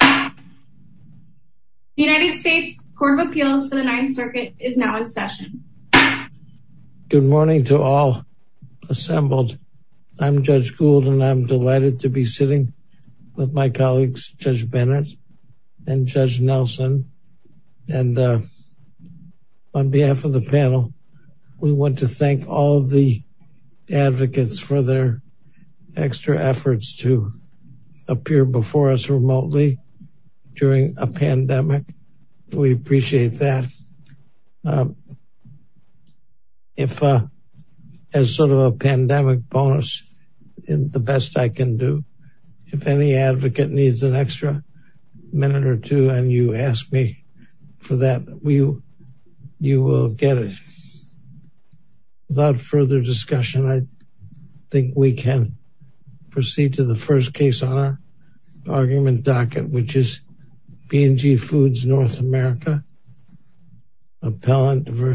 The United States Court of Appeals for the Ninth Circuit is now in session. Good morning to all assembled. I'm Judge Gould and I'm delighted to be sitting with my colleagues Judge Bennett and Judge Nelson. And on behalf of the panel, we want to thank all of the during a pandemic. We appreciate that. If as sort of a pandemic bonus, the best I can do, if any advocate needs an extra minute or two and you ask me for that, you will get it. Without further discussion, I think we can proceed to the first case on our argument docket. Which is B&G Foods North America, Appellant v.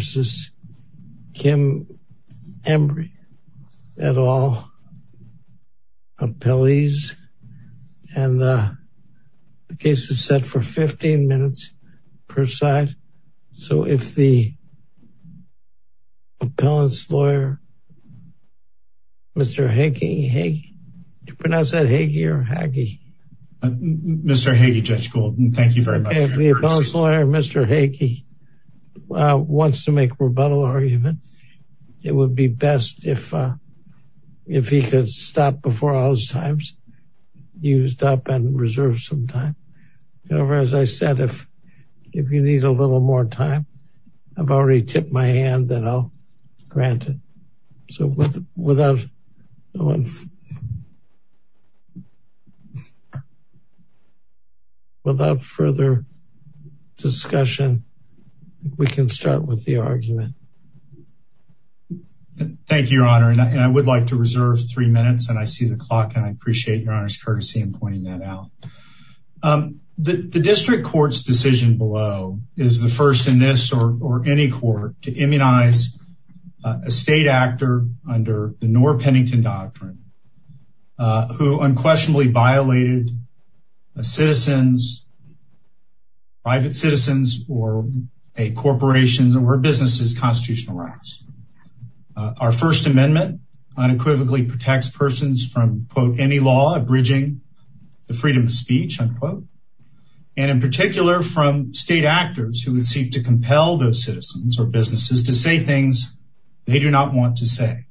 Kim Embry, et al, appellees. And the case is set for 15 minutes per side. So if the Hagee, Judge Gould, thank you very much. If the appellate lawyer, Mr. Hagee, wants to make a rebuttal argument, it would be best if he could stop before all those times, used up and reserve some time. However, as I said, if you need a little more time, I've already tipped my hand that I'll grant it. So without... Without further discussion, we can start with the argument. Thank you, Your Honor. And I would like to reserve three minutes and I see the clock and I appreciate Your Honor's courtesy in pointing that out. The district court's decision below is the first in this or any court to immunize a state actor under the Noor-Pennington Doctrine, who unquestionably violated a citizen's, private citizen's, or a corporation's, or a business's constitutional rights. Our First Amendment unequivocally protects persons from, quote, any law abridging the freedom of speech, unquote. And in particular, from state actors who would seek to compel those citizens or businesses to say things they do not want to say,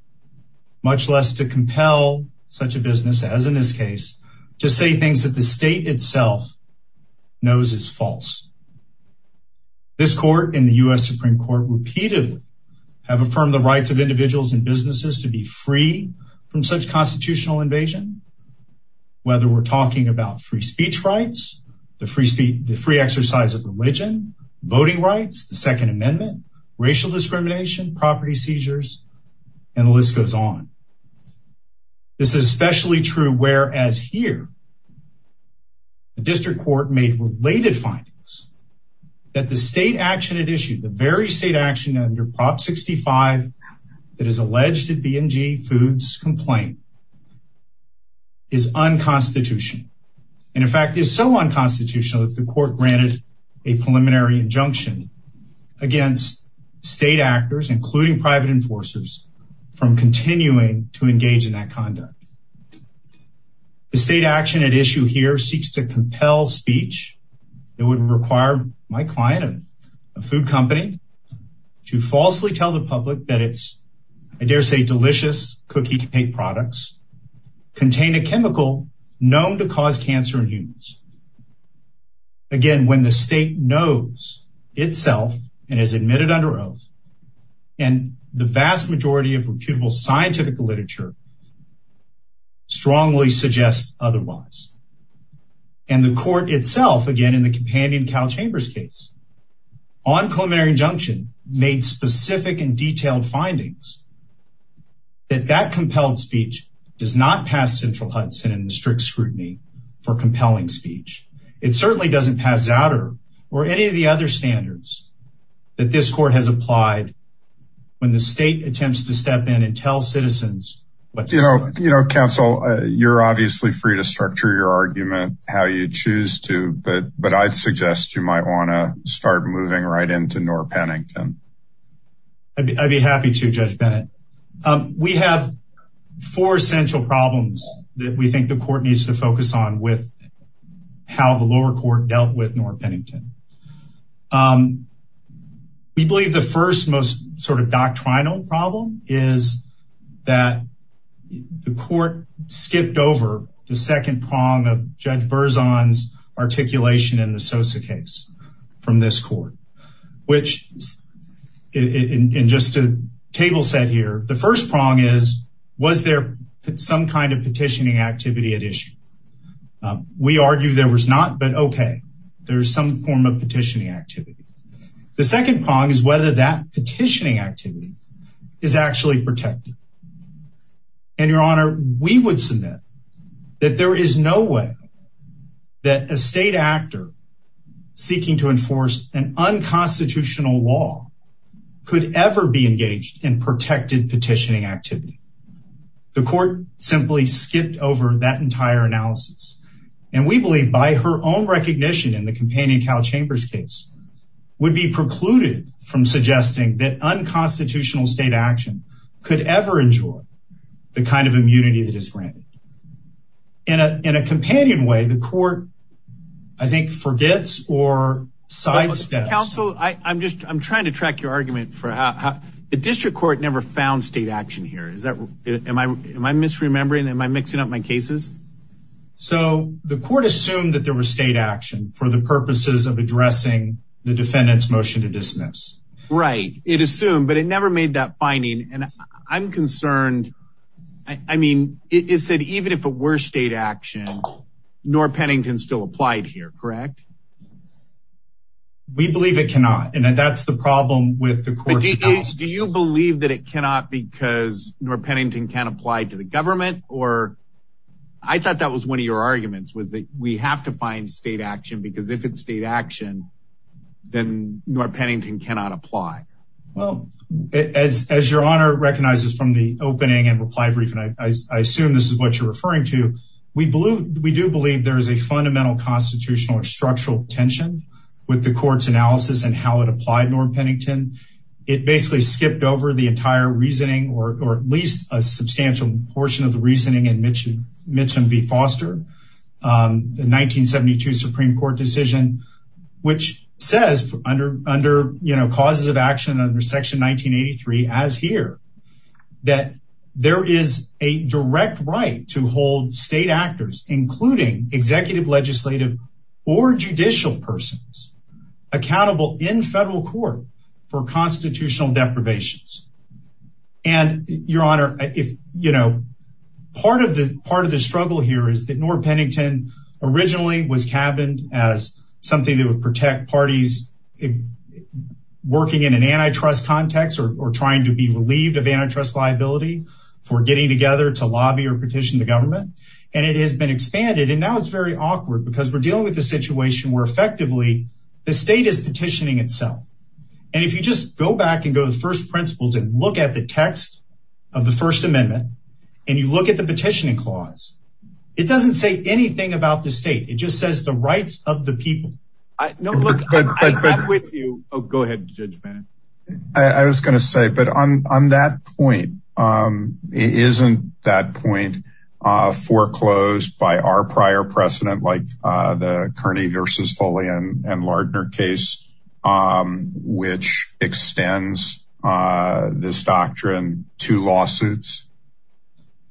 much less to compel such a business, as in this case, to say things that the state itself knows is false. This court and the U.S. Supreme Court repeatedly have affirmed the rights of individuals and businesses to be free from such constitutional invasion. Whether we're talking about free speech rights, the free exercise of religion, voting rights, the Second Amendment, racial discrimination, property seizures, and the list goes on. This is especially true, whereas here, the district court made related findings that the state action it issued, the very state action under Prop 65 that is alleged at B&G Foods' complaint, is unconstitutional. And in fact, is so unconstitutional that the court granted a preliminary injunction against state actors, including private enforcers, from continuing to engage in that conduct. The state action at issue here seeks to compel speech that would require my client, a food company, to falsely tell the public that its, I dare say, delicious cookie cake products contain a chemical known to cause cancer in humans. Again, when the state knows itself and has admitted under oath, and the vast majority of reputable scientific literature strongly suggests otherwise. And the court itself, again, in the companion Cal Chambers case, on preliminary injunction, made specific and detailed findings that that compelled speech does not pass central Hudson in strict scrutiny for compelling speech. It certainly doesn't pass Zatter or any of the other standards that this court has applied when the state attempts to step in and tell citizens. You know, counsel, you're obviously free to structure your argument how you choose to, but I'd suggest you might want to start moving right into Noor Pennington. I'd be happy to, Judge Bennett. We have four central problems that we think the court needs to focus on with how the lower court dealt with Noor Pennington. We believe the first most sort of doctrinal problem is that the court skipped over the second prong of Judge Berzon's articulation in the Sosa case from this court, which in just a table set here, the first prong is, was there some kind of petitioning activity at issue? We argue there was not, but okay, there's some form of petitioning activity. The second prong is whether that petitioning activity is actually protected. And your honor, we would submit that there is no way that a state actor seeking to enforce an unconstitutional law could ever be engaged in protected petitioning activity. The court simply skipped over that entire analysis. And we believe by her own recognition in the companion Cal Chambers case would be precluded from suggesting that unconstitutional state action could ever ensure the kind of immunity that is granted. In a companion way, the court, I think, forgets or sidesteps. Counsel, I'm just, I'm trying to track your mind. Am I misremembering? Am I mixing up my cases? So the court assumed that there were state action for the purposes of addressing the defendant's motion to dismiss, right? It assumed, but it never made that finding. And I'm concerned. I mean, it said, even if it were state action, nor Pennington still applied here, correct? We believe it cannot. And that's the problem with Do you believe that it cannot because nor Pennington can apply to the government or I thought that was one of your arguments was that we have to find state action because if it's state action, then nor Pennington cannot apply. Well, as your honor recognizes from the opening and reply brief, and I assume this is what you're referring to. We believe we do believe there is a fundamental constitutional or structural tension with the court's analysis and how it basically skipped over the entire reasoning, or at least a substantial portion of the reasoning in Mitcham v. Foster, the 1972 Supreme Court decision, which says under causes of action under section 1983, as here, that there is a direct right to hold state actors, including executive, legislative, or judicial persons accountable in federal court for constitutional deprivations. And your honor, part of the struggle here is that nor Pennington originally was cabined as something that would protect parties working in an antitrust context, or trying to be relieved of antitrust liability for getting together to lobby or petition the state. And that's very awkward because we're dealing with a situation where effectively, the state is petitioning itself. And if you just go back and go to the first principles and look at the text of the First Amendment, and you look at the petitioning clause, it doesn't say anything about the state. It just says the rights of the people. I was going to say, but on that point, isn't that point foreclosed by our prior precedent, like the Kearney v. Foley and Lardner case, which extends this doctrine to lawsuits?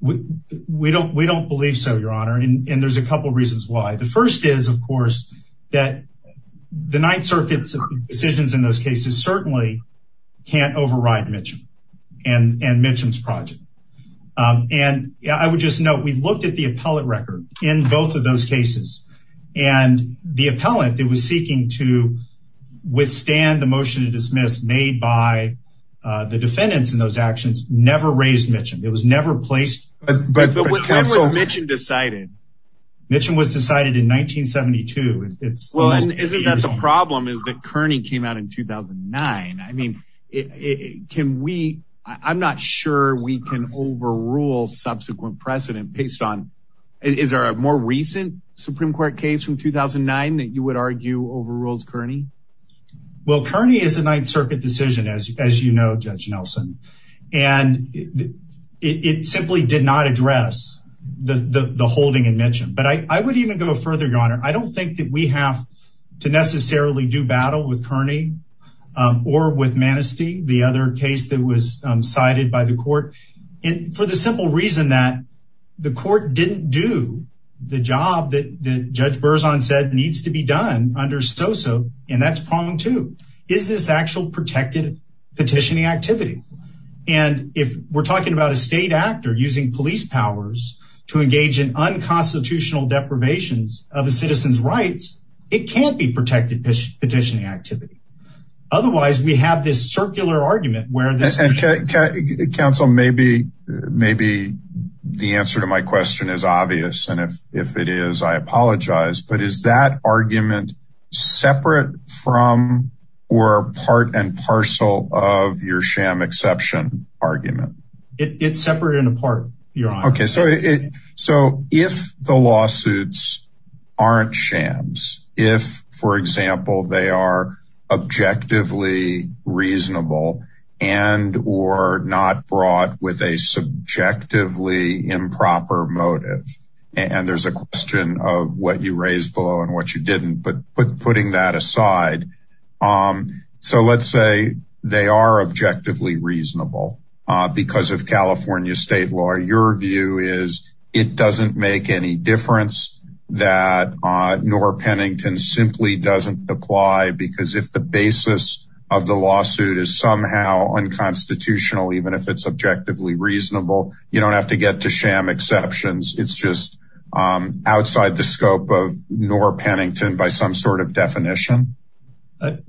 We don't believe so, your honor. And there's a couple reasons why. The first is, of course, that the Ninth Circuit's decisions in cases certainly can't override Mitchum and Mitchum's project. And I would just note, we looked at the appellate record in both of those cases. And the appellant that was seeking to withstand the motion to dismiss made by the defendants in those actions never raised Mitchum. It was never placed. But when was Mitchum decided? Mitchum was decided in 1972. Well, isn't that the problem, is that Kearney came out in 2009? I mean, I'm not sure we can overrule subsequent precedent based on, is there a more recent Supreme Court case from 2009 that you would argue overrules Kearney? Well, Kearney is a Ninth Circuit decision, as you know, Judge Nelson. And it simply did not address the holding in Mitchum. But I would even go further, your honor. I don't think that we have to necessarily do battle with Kearney or with Manistee, the other case that was cited by the court, for the simple reason that the court didn't do the job that Judge Berzon said needs to be done under SOSA. And that's pronged too. Is this actual protected petitioning activity? And if we're to engage in unconstitutional deprivations of a citizen's rights, it can't be protected petitioning activity. Otherwise, we have this circular argument where... Counsel, maybe the answer to my question is obvious. And if it is, I apologize. But is that argument separate from or part and parcel of your sham exception argument? It's separate and apart, your honor. Okay, so if the lawsuits aren't shams, if, for example, they are objectively reasonable, and or not brought with a subjectively improper motive, and there's a question of what you raised below and what you didn't, but putting that aside. So let's say they are objectively reasonable, because of California state law, your view is it doesn't make any difference that Norr Pennington simply doesn't apply. Because if the basis of the lawsuit is somehow unconstitutional, even if it's objectively reasonable, you don't have to get to sham exceptions. It's just outside the scope of Norr Pennington by some sort of definition. But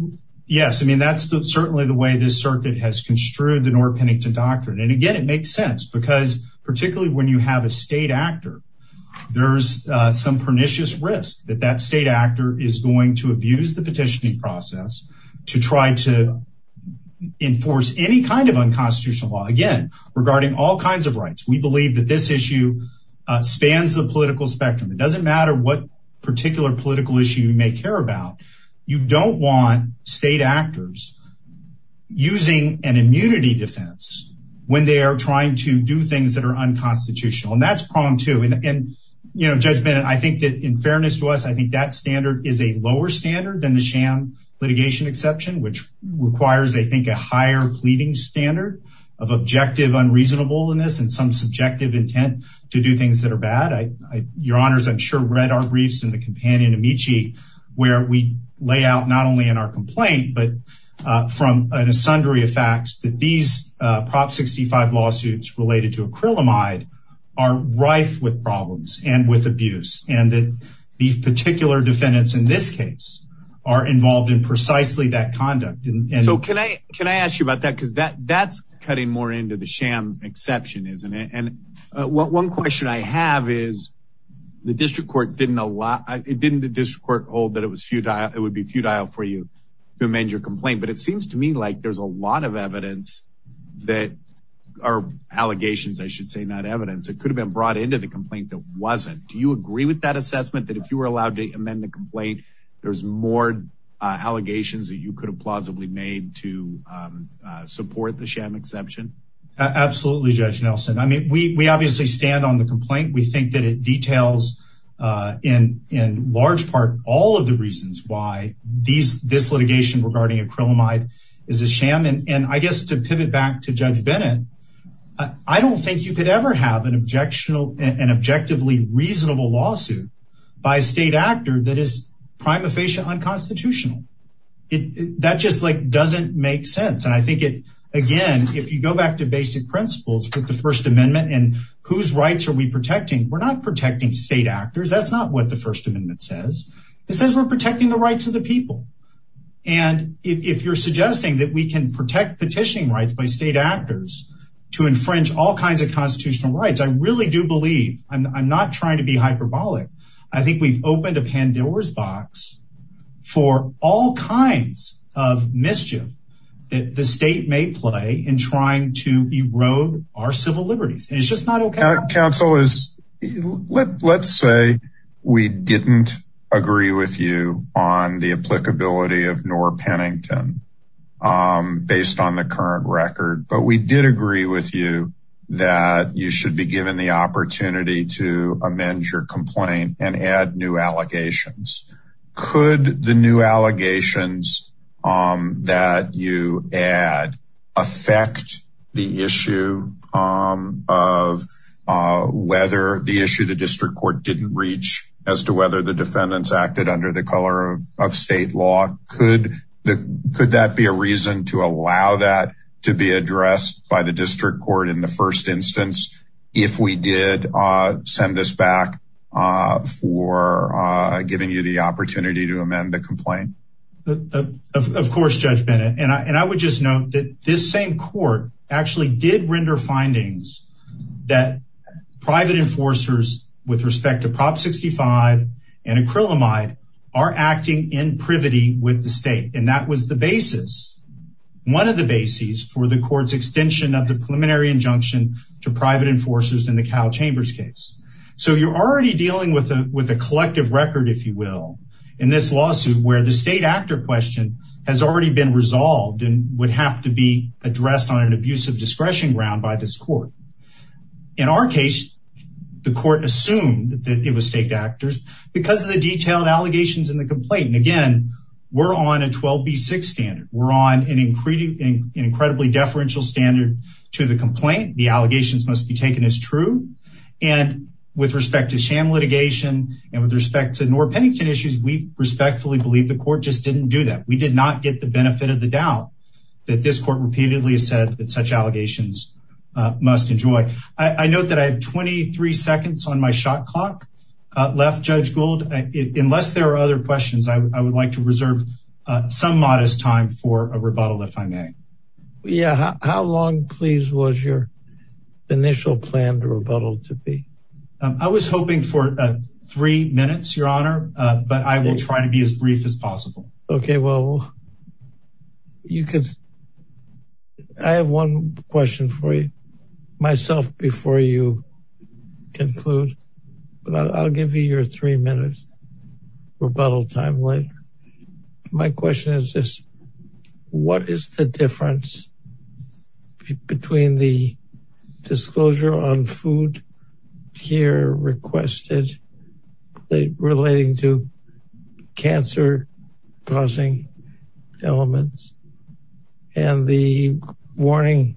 yes, I mean, that's certainly the way this circuit has construed the Norr Pennington doctrine. And again, it makes sense because particularly when you have a state actor, there's some pernicious risk that that state actor is going to abuse the petitioning process to try to enforce any kind of unconstitutional law, again, regarding all kinds of rights. We believe that this issue spans the political spectrum. It doesn't matter what particular issue you may care about. You don't want state actors using an immunity defense when they are trying to do things that are unconstitutional. And that's pronged too. And, you know, Judge Bennett, I think that in fairness to us, I think that standard is a lower standard than the sham litigation exception, which requires, I think, a higher pleading standard of objective unreasonableness and some subjective intent to do things that are bad. Your honors, I'm sure read our briefs and the companion Amici, where we lay out not only in our complaint, but from an asundery of facts that these Prop 65 lawsuits related to acrylamide are rife with problems and with abuse, and that the particular defendants in this case are involved in precisely that conduct. So can I ask you about that? Because that's cutting more into the sham exception, isn't it? One question I have is the district court didn't allow it didn't the district court hold that it was futile, it would be futile for you to amend your complaint. But it seems to me like there's a lot of evidence that are allegations, I should say not evidence that could have been brought into the complaint that wasn't. Do you agree with that assessment that if you were allowed to amend the complaint, there's more allegations that you could have plausibly made to support the sham exception? Absolutely, Judge Nelson. I mean, we obviously stand on the complaint, we think that it details in large part all of the reasons why this litigation regarding acrylamide is a sham. And I guess to pivot back to Judge Bennett, I don't think you could ever have an objectively reasonable lawsuit by a state actor that is prima facie unconstitutional. That just like basic principles with the First Amendment and whose rights are we protecting? We're not protecting state actors. That's not what the First Amendment says. It says we're protecting the rights of the people. And if you're suggesting that we can protect petitioning rights by state actors to infringe all kinds of constitutional rights, I really do believe I'm not trying to be hyperbolic. I think we've opened a Pandora's box for all kinds of mischief that the state may play in trying to erode our civil liberties. And it's just not okay. Counsel, let's say we didn't agree with you on the applicability of Norr Pennington based on the current record. But we did agree with you that you should be given the opportunity to the issue of whether the issue the district court didn't reach as to whether the defendants acted under the color of state law. Could that be a reason to allow that to be addressed by the district court in the first instance, if we did send us back for giving you the opportunity to actually did render findings that private enforcers with respect to Prop 65 and acrylamide are acting in privity with the state. And that was the basis, one of the bases for the court's extension of the preliminary injunction to private enforcers in the Cal Chambers case. So you're already dealing with a collective record, if you will, in this lawsuit where the state question has already been resolved and would have to be addressed on an abusive discretion ground by this court. In our case, the court assumed that it was state actors because of the detailed allegations in the complaint. And again, we're on a 12B6 standard. We're on an incredibly deferential standard to the complaint. The allegations must be taken as true. And with respect to Cham litigation and with respect to Norr Pennington issues, we respectfully believe the court just didn't do that. We did not get the benefit of the doubt that this court repeatedly said that such allegations must enjoy. I note that I have 23 seconds on my shot clock left, Judge Gould. Unless there are other questions, I would like to reserve some modest time for a rebuttal if I may. Yeah. How long, please, was your initial plan to rebuttal to be? I was hoping for three minutes, Your Honor, but I will try to be as brief as possible. Okay. Well, you could, I have one question for you, myself, before you conclude, but I'll give you your three minutes rebuttal time later. My question is this, what is the difference between the disclosure on food here requested relating to cancer causing elements and the warning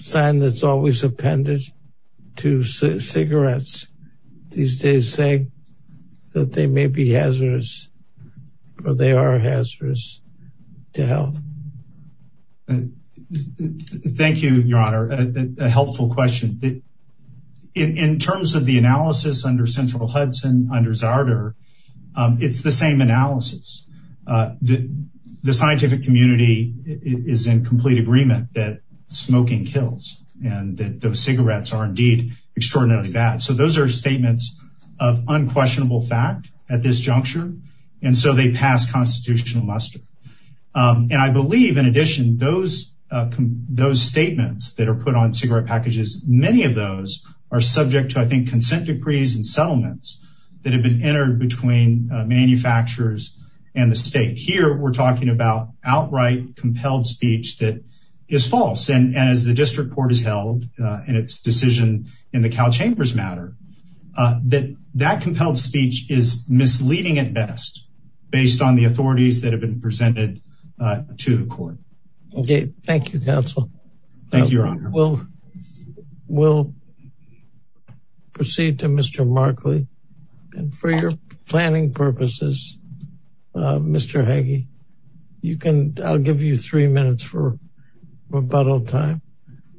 sign that's always appended to cigarettes these days saying that they may be hazardous or they are hazardous to health? Thank you, Your Honor. A helpful question. In terms of the analysis under Central Hudson, under Zarder, it's the same analysis. The scientific community is in complete agreement that smoking kills and that those cigarettes are indeed extraordinarily bad. So those are of unquestionable fact at this juncture, and so they pass constitutional muster. And I believe, in addition, those statements that are put on cigarette packages, many of those are subject to, I think, consent decrees and settlements that have been entered between manufacturers and the state. Here, we're talking about outright compelled speech that is false. And as the district court has held in its decision in the Cal Chambers matter, that compelled speech is misleading at best based on the authorities that have been presented to the court. Okay. Thank you, counsel. Thank you, Your Honor. We'll proceed to Mr. Markley. And for your planning purposes, Mr. Hagee, I'll give you three minutes for rebuttal time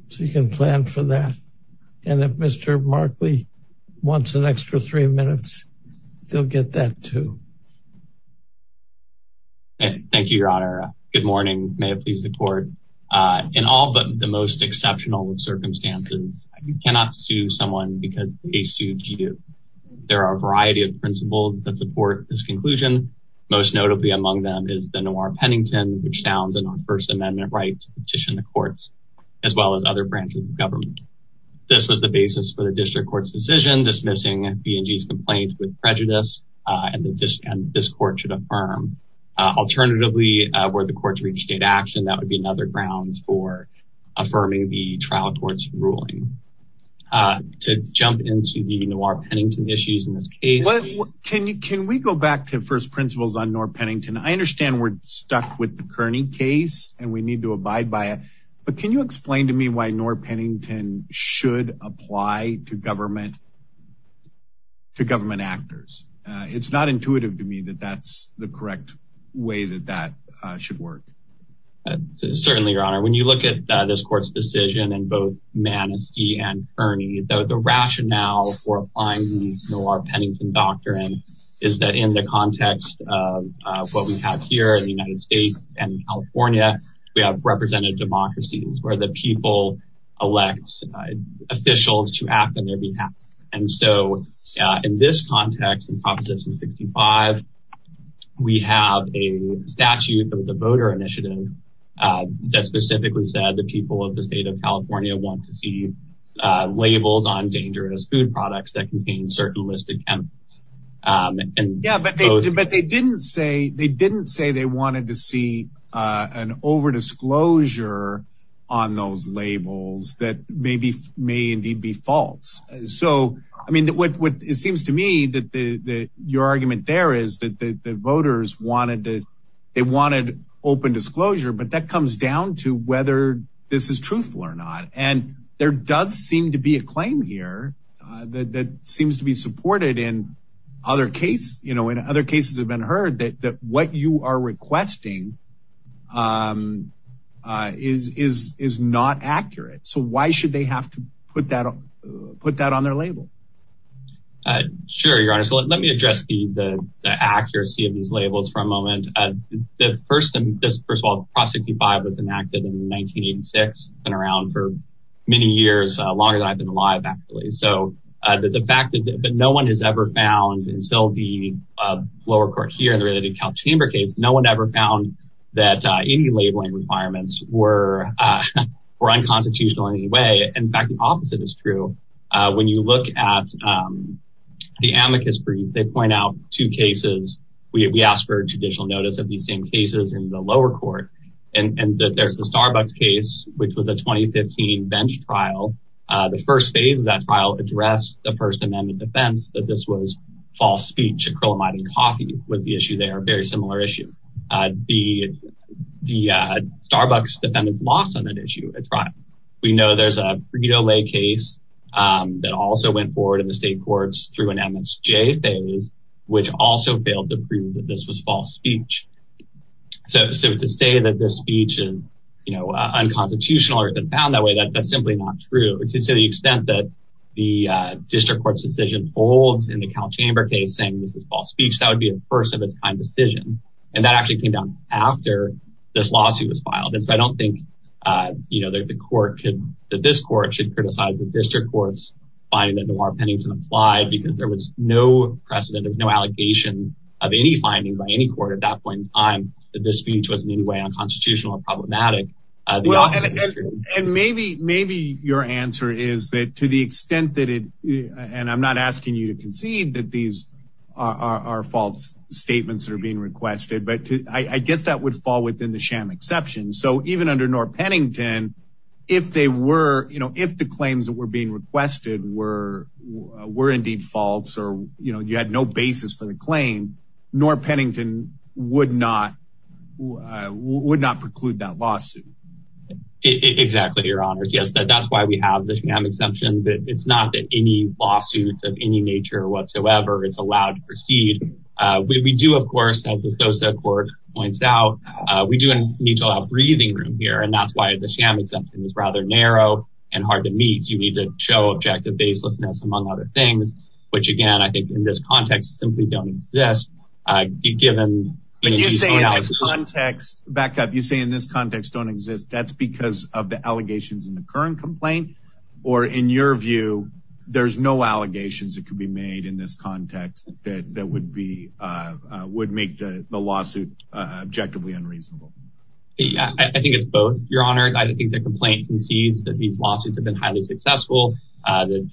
so you can plan for that. And if Mr. Markley wants an extra three minutes, he'll get that too. Thank you, Your Honor. Good morning. May it please the court. In all but the most exceptional circumstances, you cannot sue someone because they sued you. There are a variety of principles that support this conclusion. Most notably among them is the Noir-Pennington, which sounds a non-First Amendment right to petition the courts, as well as other branches of government. This was the basis for the district court's decision dismissing B&G's complaint with prejudice and this court should affirm. Alternatively, were the court to reach state action, that would be another grounds for affirming the trial court's ruling. To jump into the Noir-Pennington issues in this case. Can we go back to first principles on Noir-Pennington? I understand we're stuck with the Kearney case and we need to abide by it. But can you explain to me why Noir-Pennington should apply to government actors? It's not certainly, Your Honor. When you look at this court's decision and both Manistee and Kearney, the rationale for applying the Noir-Pennington doctrine is that in the context of what we have here in the United States and California, we have represented democracies where the people elect officials to act on their behalf. And so in this context, in Proposition 65, we have a statute that was a voter initiative that specifically said the people of the state of California want to see labels on dangerous food products that contain certain listed chemicals. But they didn't say they wanted to see an overdisclosure on those labels that may indeed be dangerous. The voters wanted open disclosure, but that comes down to whether this is truthful or not. And there does seem to be a claim here that seems to be supported in other cases have been heard that what you are requesting is not accurate. So why should they have to put that on their label? Sure, Your Honor. So let me address the accuracy of these labels for a moment. The first of all, Proposition 65 was enacted in 1986. It's been around for many years, longer than I've been alive, actually. So the fact that no one has ever found, until the lower court here in the Calchamber case, no one ever found that any labeling requirements were unconstitutional in any way. In fact, the opposite is true. When you look at the amicus brief, they point out two cases. We asked for judicial notice of these same cases in the lower court. And there's the Starbucks case, which was a 2015 bench trial. The first phase of that trial addressed the First Amendment defense that this was false speech, acrylamide and coffee was the We know there's a Frito-Lay case that also went forward in the state courts through an MSJ phase, which also failed to prove that this was false speech. So to say that this speech is, you know, unconstitutional or even found that way, that's simply not true. To the extent that the district court's decision holds in the Calchamber case saying this is false speech, that would be a first of its kind decision. And that actually came down after this lawsuit was that this court should criticize the district court's finding that Noir-Pennington applied because there was no precedent of no allegation of any finding by any court at that point in time that this speech was in any way unconstitutional or problematic. And maybe your answer is that to the extent that it and I'm not asking you to concede that these are false statements that are being requested, but I guess that would fall within the sham exception. So even under Noir-Pennington, if they were, you know, if the claims that were being requested were were indeed false, or, you know, you had no basis for the claim, Noir-Pennington would not would not preclude that lawsuit. Exactly, your honors. Yes, that's why we have the sham exception that it's not that any lawsuit of any nature whatsoever is allowed to proceed. We do, of course, as the Sosa court points out, we do need to allow breathing room here. And that's why the sham exemption is rather narrow and hard to meet. You need to show objective baselessness, among other things, which, again, I think in this context simply don't exist. Back up, you say in this context don't exist, that's because of the allegations in the current complaint? Or in your view, there's no allegations that could be made in this context that would be would make the lawsuit objectively unreasonable? I think it's both, your honor. I think the complaint concedes that these lawsuits have been highly successful. The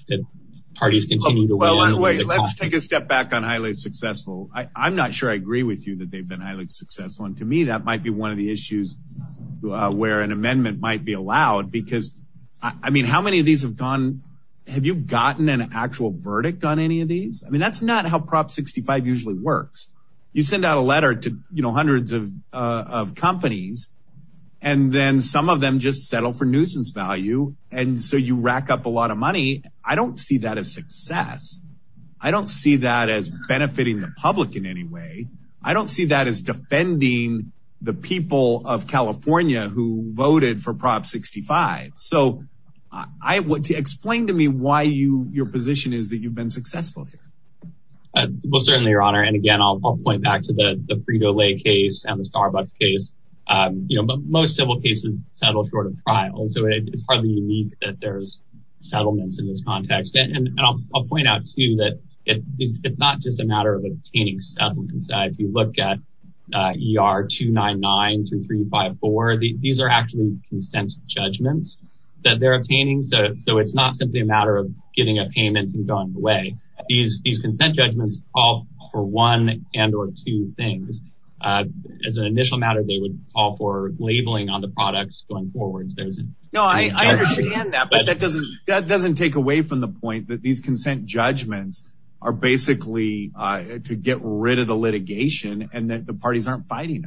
parties continue to wait. Let's take a step back on highly successful. I'm not sure I agree with you that they've been highly successful. And to me, that might be one of the issues where an amendment might be allowed, because I mean, how many of these have gone? Have you gotten an actual verdict on any of these? I You send out a letter to, you know, hundreds of companies, and then some of them just settle for nuisance value. And so you rack up a lot of money. I don't see that as success. I don't see that as benefiting the public in any way. I don't see that as defending the people of California who voted for Prop 65. So I want to explain to me why you your position is that you've been successful? I will certainly, your honor. And again, I'll point back to the Frito-Lay case and the Starbucks case. You know, most civil cases settle short of trial. So it's partly unique that there's settlements in this context. And I'll point out to you that it's not just a matter of obtaining settlements. If you look at ER 299-3354, these are actually consent judgments that they're a matter of getting a payment and going away. These these consent judgments call for one and or two things. As an initial matter, they would call for labeling on the products going forward. No, I understand that. But that doesn't that doesn't take away from the point that these consent judgments are basically to get rid of the litigation and that the parties aren't fighting.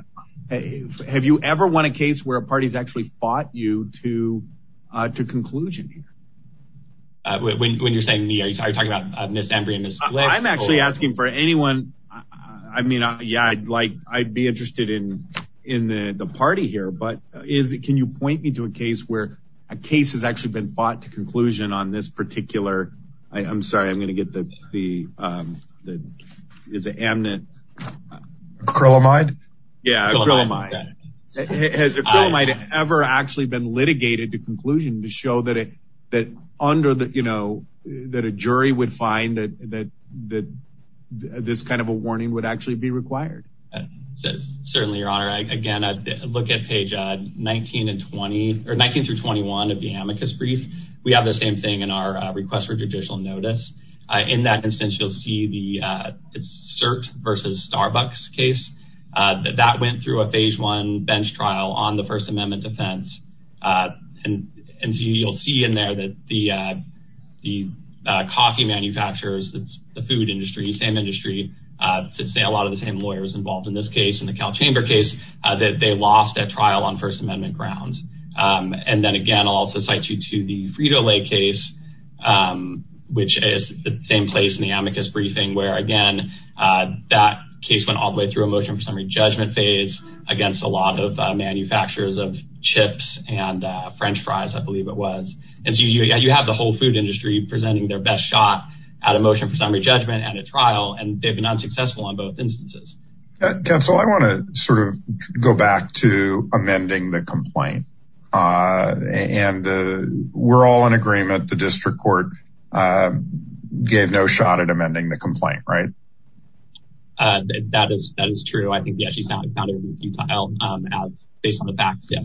Have you ever won a case where a party's actually fought you to to conclusion here? When you're saying me, are you talking about Ms. Embry and Ms. Slick? I'm actually asking for anyone. I mean, yeah, I'd like I'd be interested in in the party here. But is it can you point me to a case where a case has actually been fought to conclusion on this particular? I'm sorry, I'm going to get the the the is it amnet? Acrylamide? Yeah, acrylamide. Has acrylamide ever actually been litigated to conclusion to show that it that under the you know, that a jury would find that that that this kind of a warning would actually be required? Certainly, Your Honor. Again, look at page 19 and 20 or 19 through 21 of the amicus brief. We have the same thing in our request for judicial notice. In that instance, you'll see the cert versus Starbucks case that that went through a phase one bench trial on the First Amendment defense. And you'll see in there that the the coffee manufacturers, that's the food industry, same industry, to say a lot of the same lawyers involved in this case in the Cal Chamber case that they lost at trial on First Amendment grounds. And then again, also cite you to the Frito-Lay case, which is the same place in the amicus briefing where again, that case went all through a motion for summary judgment phase against a lot of manufacturers of chips and french fries, I believe it was. And so you have the whole food industry presenting their best shot at a motion for summary judgment and a trial and they've been unsuccessful on both instances. Counsel, I want to sort of go back to amending the complaint. And we're all in agreement, the district court gave no shot at amending the complaint, right? That is that is true. I think yeah, she's not counted as based on the facts. Yeah.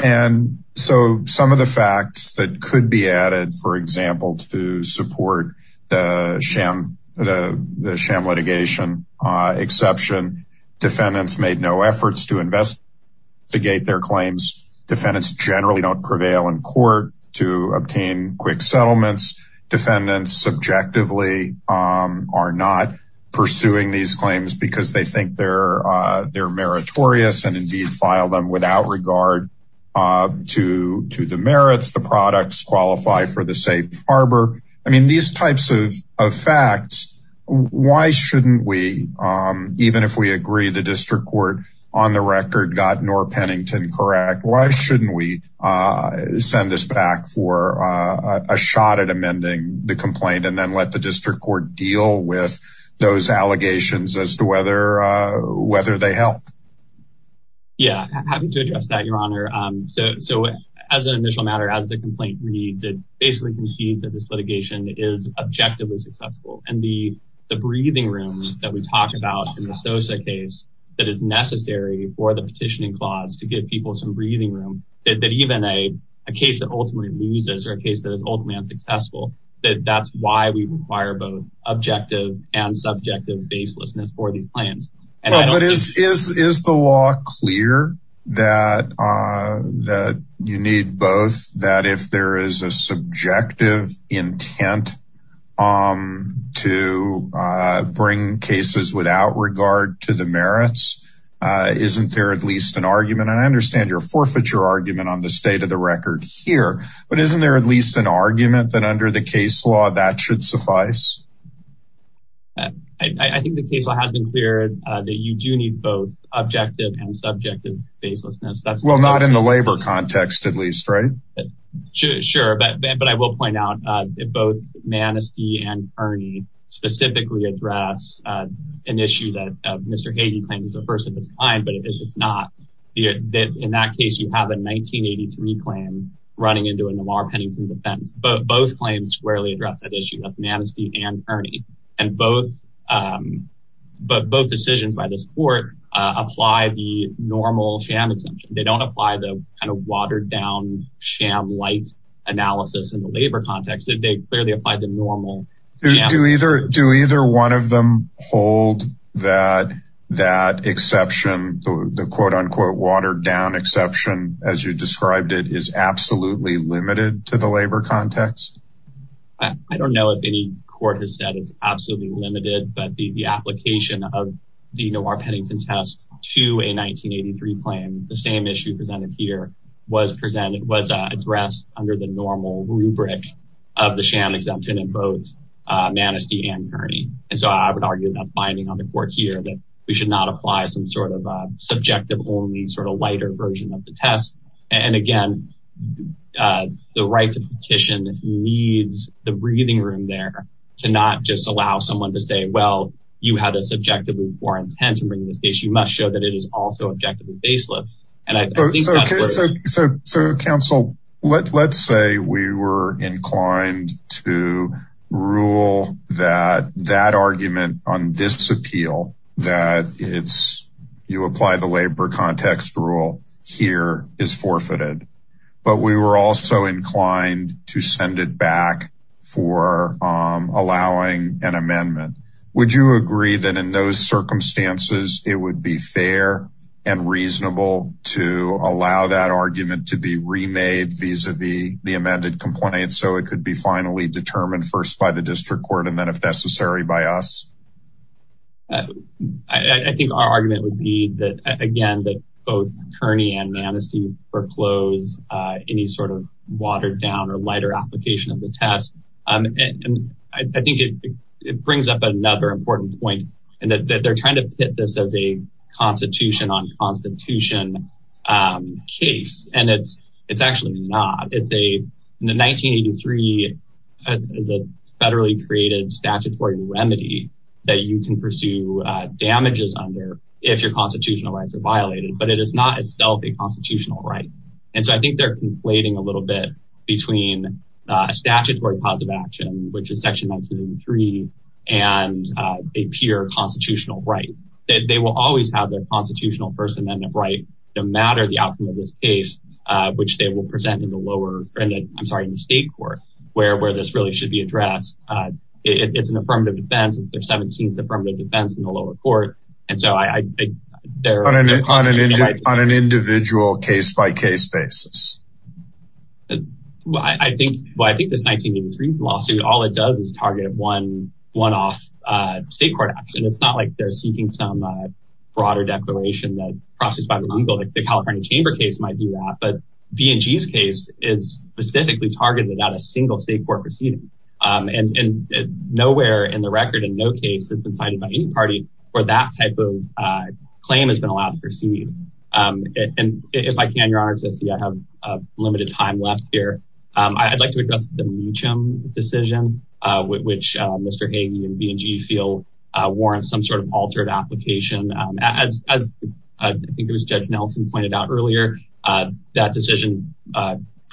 And so some of the facts that could be added, for example, to support the sham, the sham litigation exception, defendants made no efforts to investigate their claims. Defendants generally don't prevail in court to obtain quick settlements. Defendants subjectively are not pursuing these claims because they think they're, they're meritorious and indeed file them without regard to to the merits, the products qualify for the safe harbor. I mean, these types of facts, why shouldn't we, even if we agree the district court on the record got nor Pennington correct, why shouldn't we send this back for a shot at amending the complaint and then let the district court deal with those allegations as to whether whether they help? Yeah, happy to address that, Your Honor. So as an initial matter, as the complaint reads, it basically concedes that this litigation is objectively successful. And the breathing room that we talked about in the Sosa case, that is necessary for the petitioning clause to give people some breathing room, that even a case that ultimately loses or a case that is ultimately unsuccessful, that that's why we require both objective and subjective baselessness for these plans. Is the law clear that you need both that if there is a subjective intent to bring cases without regard to the merits? Isn't there at least an argument? And I understand your forfeiture argument on the state of the record here. But isn't there at least an argument that under the case law that should suffice? I think the case law has been clear that you do need both objective and subjective baselessness. That's well, not in the labor context, at least, right? Sure, but but I will point out, both Manistee and Ernie specifically address an issue that Mr. 80 claims is the first of its kind, but it's not that in that case, you have a 1983 claim running into a Namaar-Pennington defense, but both claims squarely address that issue. That's Manistee and Ernie. And both, but both decisions by this court apply the normal sham exemption. They don't apply the kind of watered down sham light analysis in the labor context, they clearly apply the normal. Do either do either one of them hold that, that exception, the quote unquote watered down exception, as you described it is absolutely limited to the labor context. I don't know if any court has said it's absolutely limited, but the application of the Namaar-Pennington test to a 1983 claim, the same issue presented here was presented was addressed under the normal rubric of the sham exemption in both Manistee and Ernie. And so I would argue that's binding on the court here that we should not apply some sort of subjective only sort of lighter version of the test. And again, the right to petition needs the breathing room there to not just allow someone to say, well, you had a subjectively poor intent to bring this case, but you must show that it is also objectively baseless. And I think that's where... Okay. So, so, so counsel, let, let's say we were inclined to rule that, that argument on this appeal that it's, you apply the labor context rule here is forfeited, but we were also inclined to send it back for allowing an amendment. Would you agree that in those circumstances, it would be fair and reasonable to allow that argument to be remade vis-a-vis the amended complaint, so it could be finally determined first by the district court and then if necessary by us? I think our argument would be that again, that both Kearney and Manistee foreclose any sort of down or lighter application of the test. And I think it brings up another important point and that they're trying to pit this as a constitution on constitution case. And it's, it's actually not, it's a, in the 1983 as a federally created statutory remedy that you can pursue damages under if your constitutional rights are violated, but it is not itself a constitutional right. And so I think they're conflating a little bit between a statutory positive action, which is section 193, and a pure constitutional right, that they will always have their constitutional first amendment right, no matter the outcome of this case, which they will present in the lower end, I'm sorry, in the state court, where, where this really should be addressed. It's an affirmative defense. It's their 17th affirmative defense in the lower court. And so I, they're on an, on an individual case by case basis. Well, I think, well, I think this 1983 lawsuit, all it does is target one, one off state court action. It's not like they're seeking some broader declaration that processed by the legal, like the California chamber case might do that. But B and G's case is specifically targeted at a single state court proceeding. And nowhere in the record in no case has been where that type of claim has been allowed to proceed. And if I can, Your Honor, to see I have limited time left here. I'd like to address the Meacham decision, which Mr. Hagey and B and G feel warrants some sort of altered application. As I think it was Judge Nelson pointed out earlier, that decision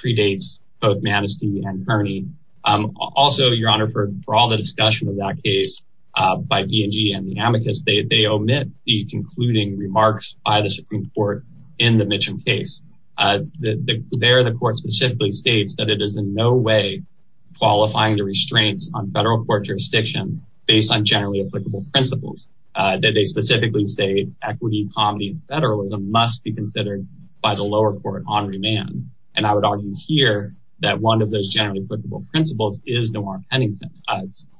predates both Manistee and Kearney. Also, Your Honor, for all the discussion of that case by B and G and the amicus, they omit the concluding remarks by the Supreme Court in the Meacham case. There the court specifically states that it is in no way qualifying the restraints on federal court jurisdiction based on generally applicable principles that they specifically say equity, comedy, and federalism must be considered by the lower court on remand. And I would argue here that one of those generally applicable principles is Noir-Pennington.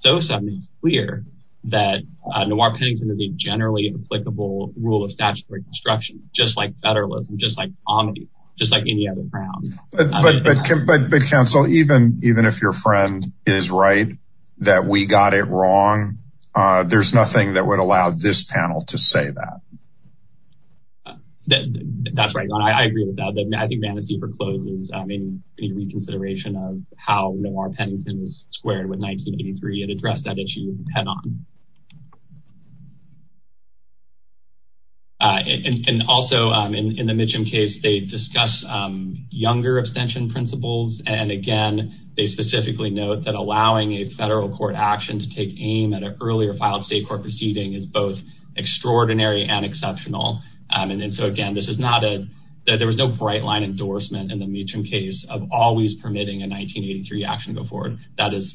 So something's clear that Noir-Pennington is a generally applicable rule of statutory construction, just like federalism, just like comedy, just like any other ground. But counsel, even if your friend is right, that we got it wrong, there's nothing that would allow this panel to say that. That's right. I agree with that. I think Manistee forecloses any reconsideration of how Noir-Pennington is squared with 1983 and address that issue head on. And also in the Meacham case, they discuss younger abstention principles. And again, they specifically note that allowing a federal court action to take aim at an earlier filed state court proceeding is both extraordinary and exceptional. And then so again, this is not a, there was no bright line endorsement in the Meacham case of always permitting a 1983 action to go forward. That is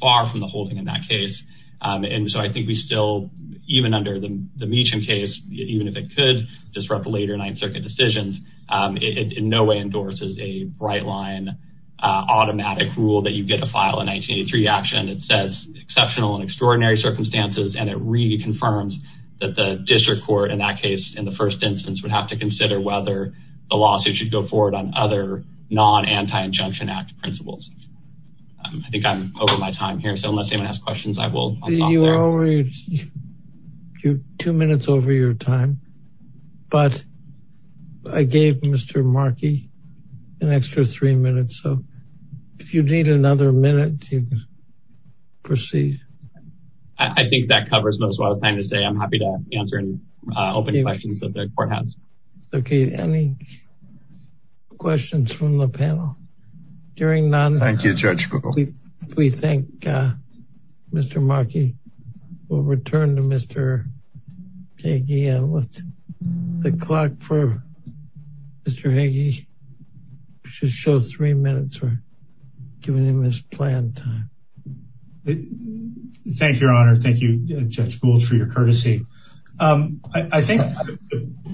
far from the holding in that case. And so I think we still, even under the Meacham case, even if it could disrupt the later Ninth Circuit decisions, it in no way endorses a bright line automatic rule that you get a file in 1983 action that says exceptional and extraordinary circumstances. And it reconfirms that the district court in that case, in the first instance, would have to consider whether the lawsuit should go forward on other non-anti-injunction act principles. I think I'm over my time here. So unless anyone has questions, I will stop there. You're two minutes over your time, but I gave Mr. Markey an extra three minutes. So if you need another minute to proceed. I think that covers most of what I was trying to say. I'm happy to answer any open questions that the court has. Okay. Any questions from the panel? During non-intervention, we thank Mr. Markey. We'll return to Mr. Hagee. The clock for Mr. Hagee should show three minutes for giving him his planned time. Thank you, Your Honor. Thank you, Judge Gould, for your courtesy. I think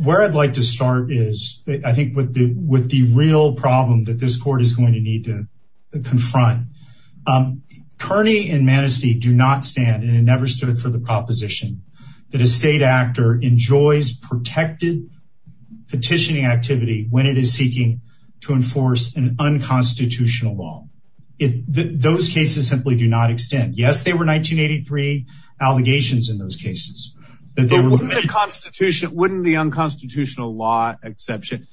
where I'd like to start is I think with the real problem that this court is going to need to confront. Kearney and Manistee do not stand, and it never stood for the proposition, that a state actor enjoys protected petitioning activity when it is seeking to enforce an unconstitutional law. Those cases simply do not extend. Yes, there were 1983 allegations in those cases. Wouldn't the unconstitutional law exception...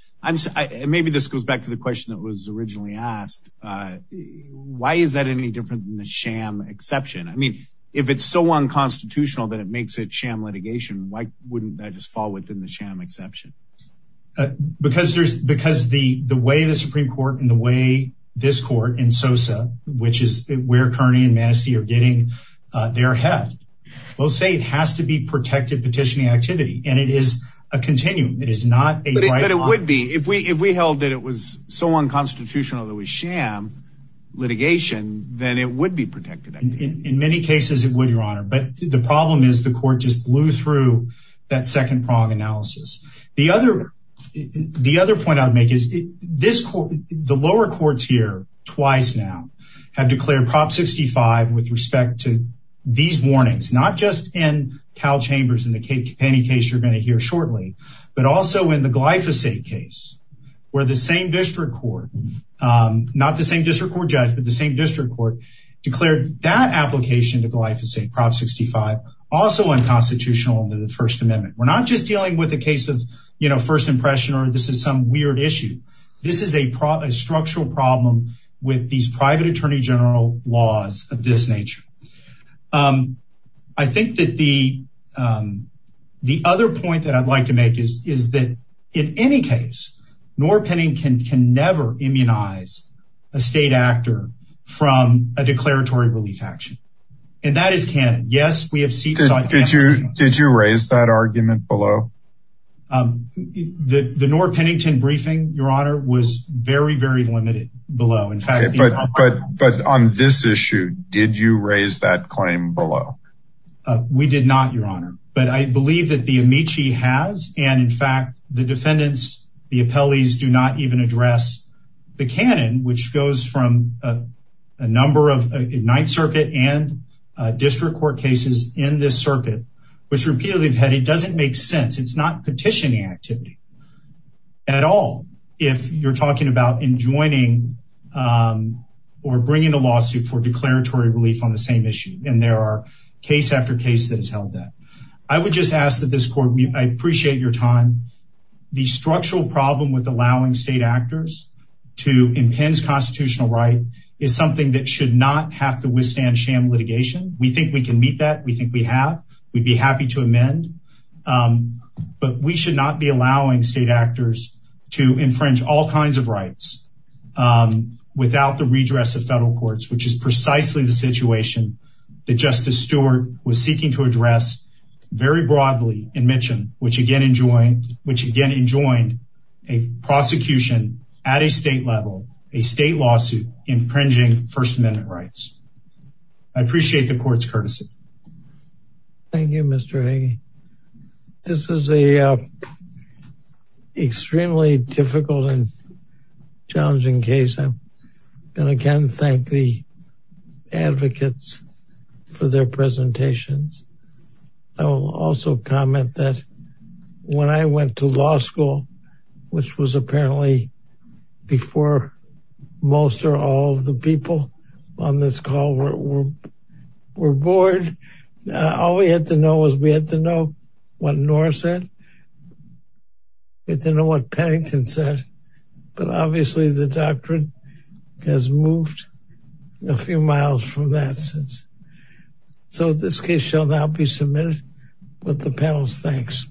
Maybe this goes back to the question that was originally asked. Why is that any different than the sham exception? I mean, if it's so unconstitutional that it makes it sham litigation, why wouldn't that just fall within the sham exception? Because the way the Supreme Court and the way this court and SOSA, which is where Kearney and Manistee are getting their heft, will say it has to be protected petitioning activity, and it is a continuum. It is not a... But it would be. If we held that it was so unconstitutional that it was sham litigation, then it would be protected. In many cases, it would, Your Honor. But the problem is the court just blew through that second prong analysis. The other point I would make is the lower courts here, twice now, have declared Prop 65 with respect to these warnings, not just in Cal Chambers and the Kate Kapaney case you're going to hear shortly, but also in the Glyphosate case, where the same district court, not the same district court judge, but the same district court declared that application to Glyphosate, Prop 65, also unconstitutional under the First Amendment. We're not just dealing with a case of, you know, first impression or this is some weird issue. This is a structural problem with these private attorney general laws of this nature. I think that the other point that I'd like to make is that in any case, Noor Pennington can never immunize a state actor from a declaratory relief action. And that is canon. Yes, we have seen... Did you raise that argument below? The Noor Pennington briefing, Your Honor, was very, very limited below. But on this issue, did you raise that claim below? We did not, Your Honor. But I believe that the Amici has, and in fact, the defendants, the appellees do not even address the canon, which goes from a number of Ninth Circuit and district court cases in this circuit, which repeatedly have had... It doesn't make sense. It's not petitioning activity at all, if you're talking about enjoining or bringing a lawsuit for declaratory relief on the same issue. And there are case after case that has held that. I would just ask that this court, I appreciate your time. The structural problem with allowing state actors to impinge constitutional right is something that should not have to withstand sham litigation. We think we can meet that. We think we have. We'd be happy to amend. But we should not be allowing state actors to infringe all kinds of rights without the redress of federal courts, which is precisely the situation that Justice very broadly enmissioned, which again enjoined a prosecution at a state level, a state lawsuit impinging First Amendment rights. I appreciate the court's courtesy. Thank you, Mr. Hagee. This is an extremely difficult and challenging case. I'm going to thank the advocates for their presentations. I will also comment that when I went to law school, which was apparently before most or all of the people on this call were board, all we had to know was we had to know what Noor said. We had to know what Pennington said. But obviously, the doctrine has moved a few miles from that sense. So this case shall now be submitted with the panel's thanks.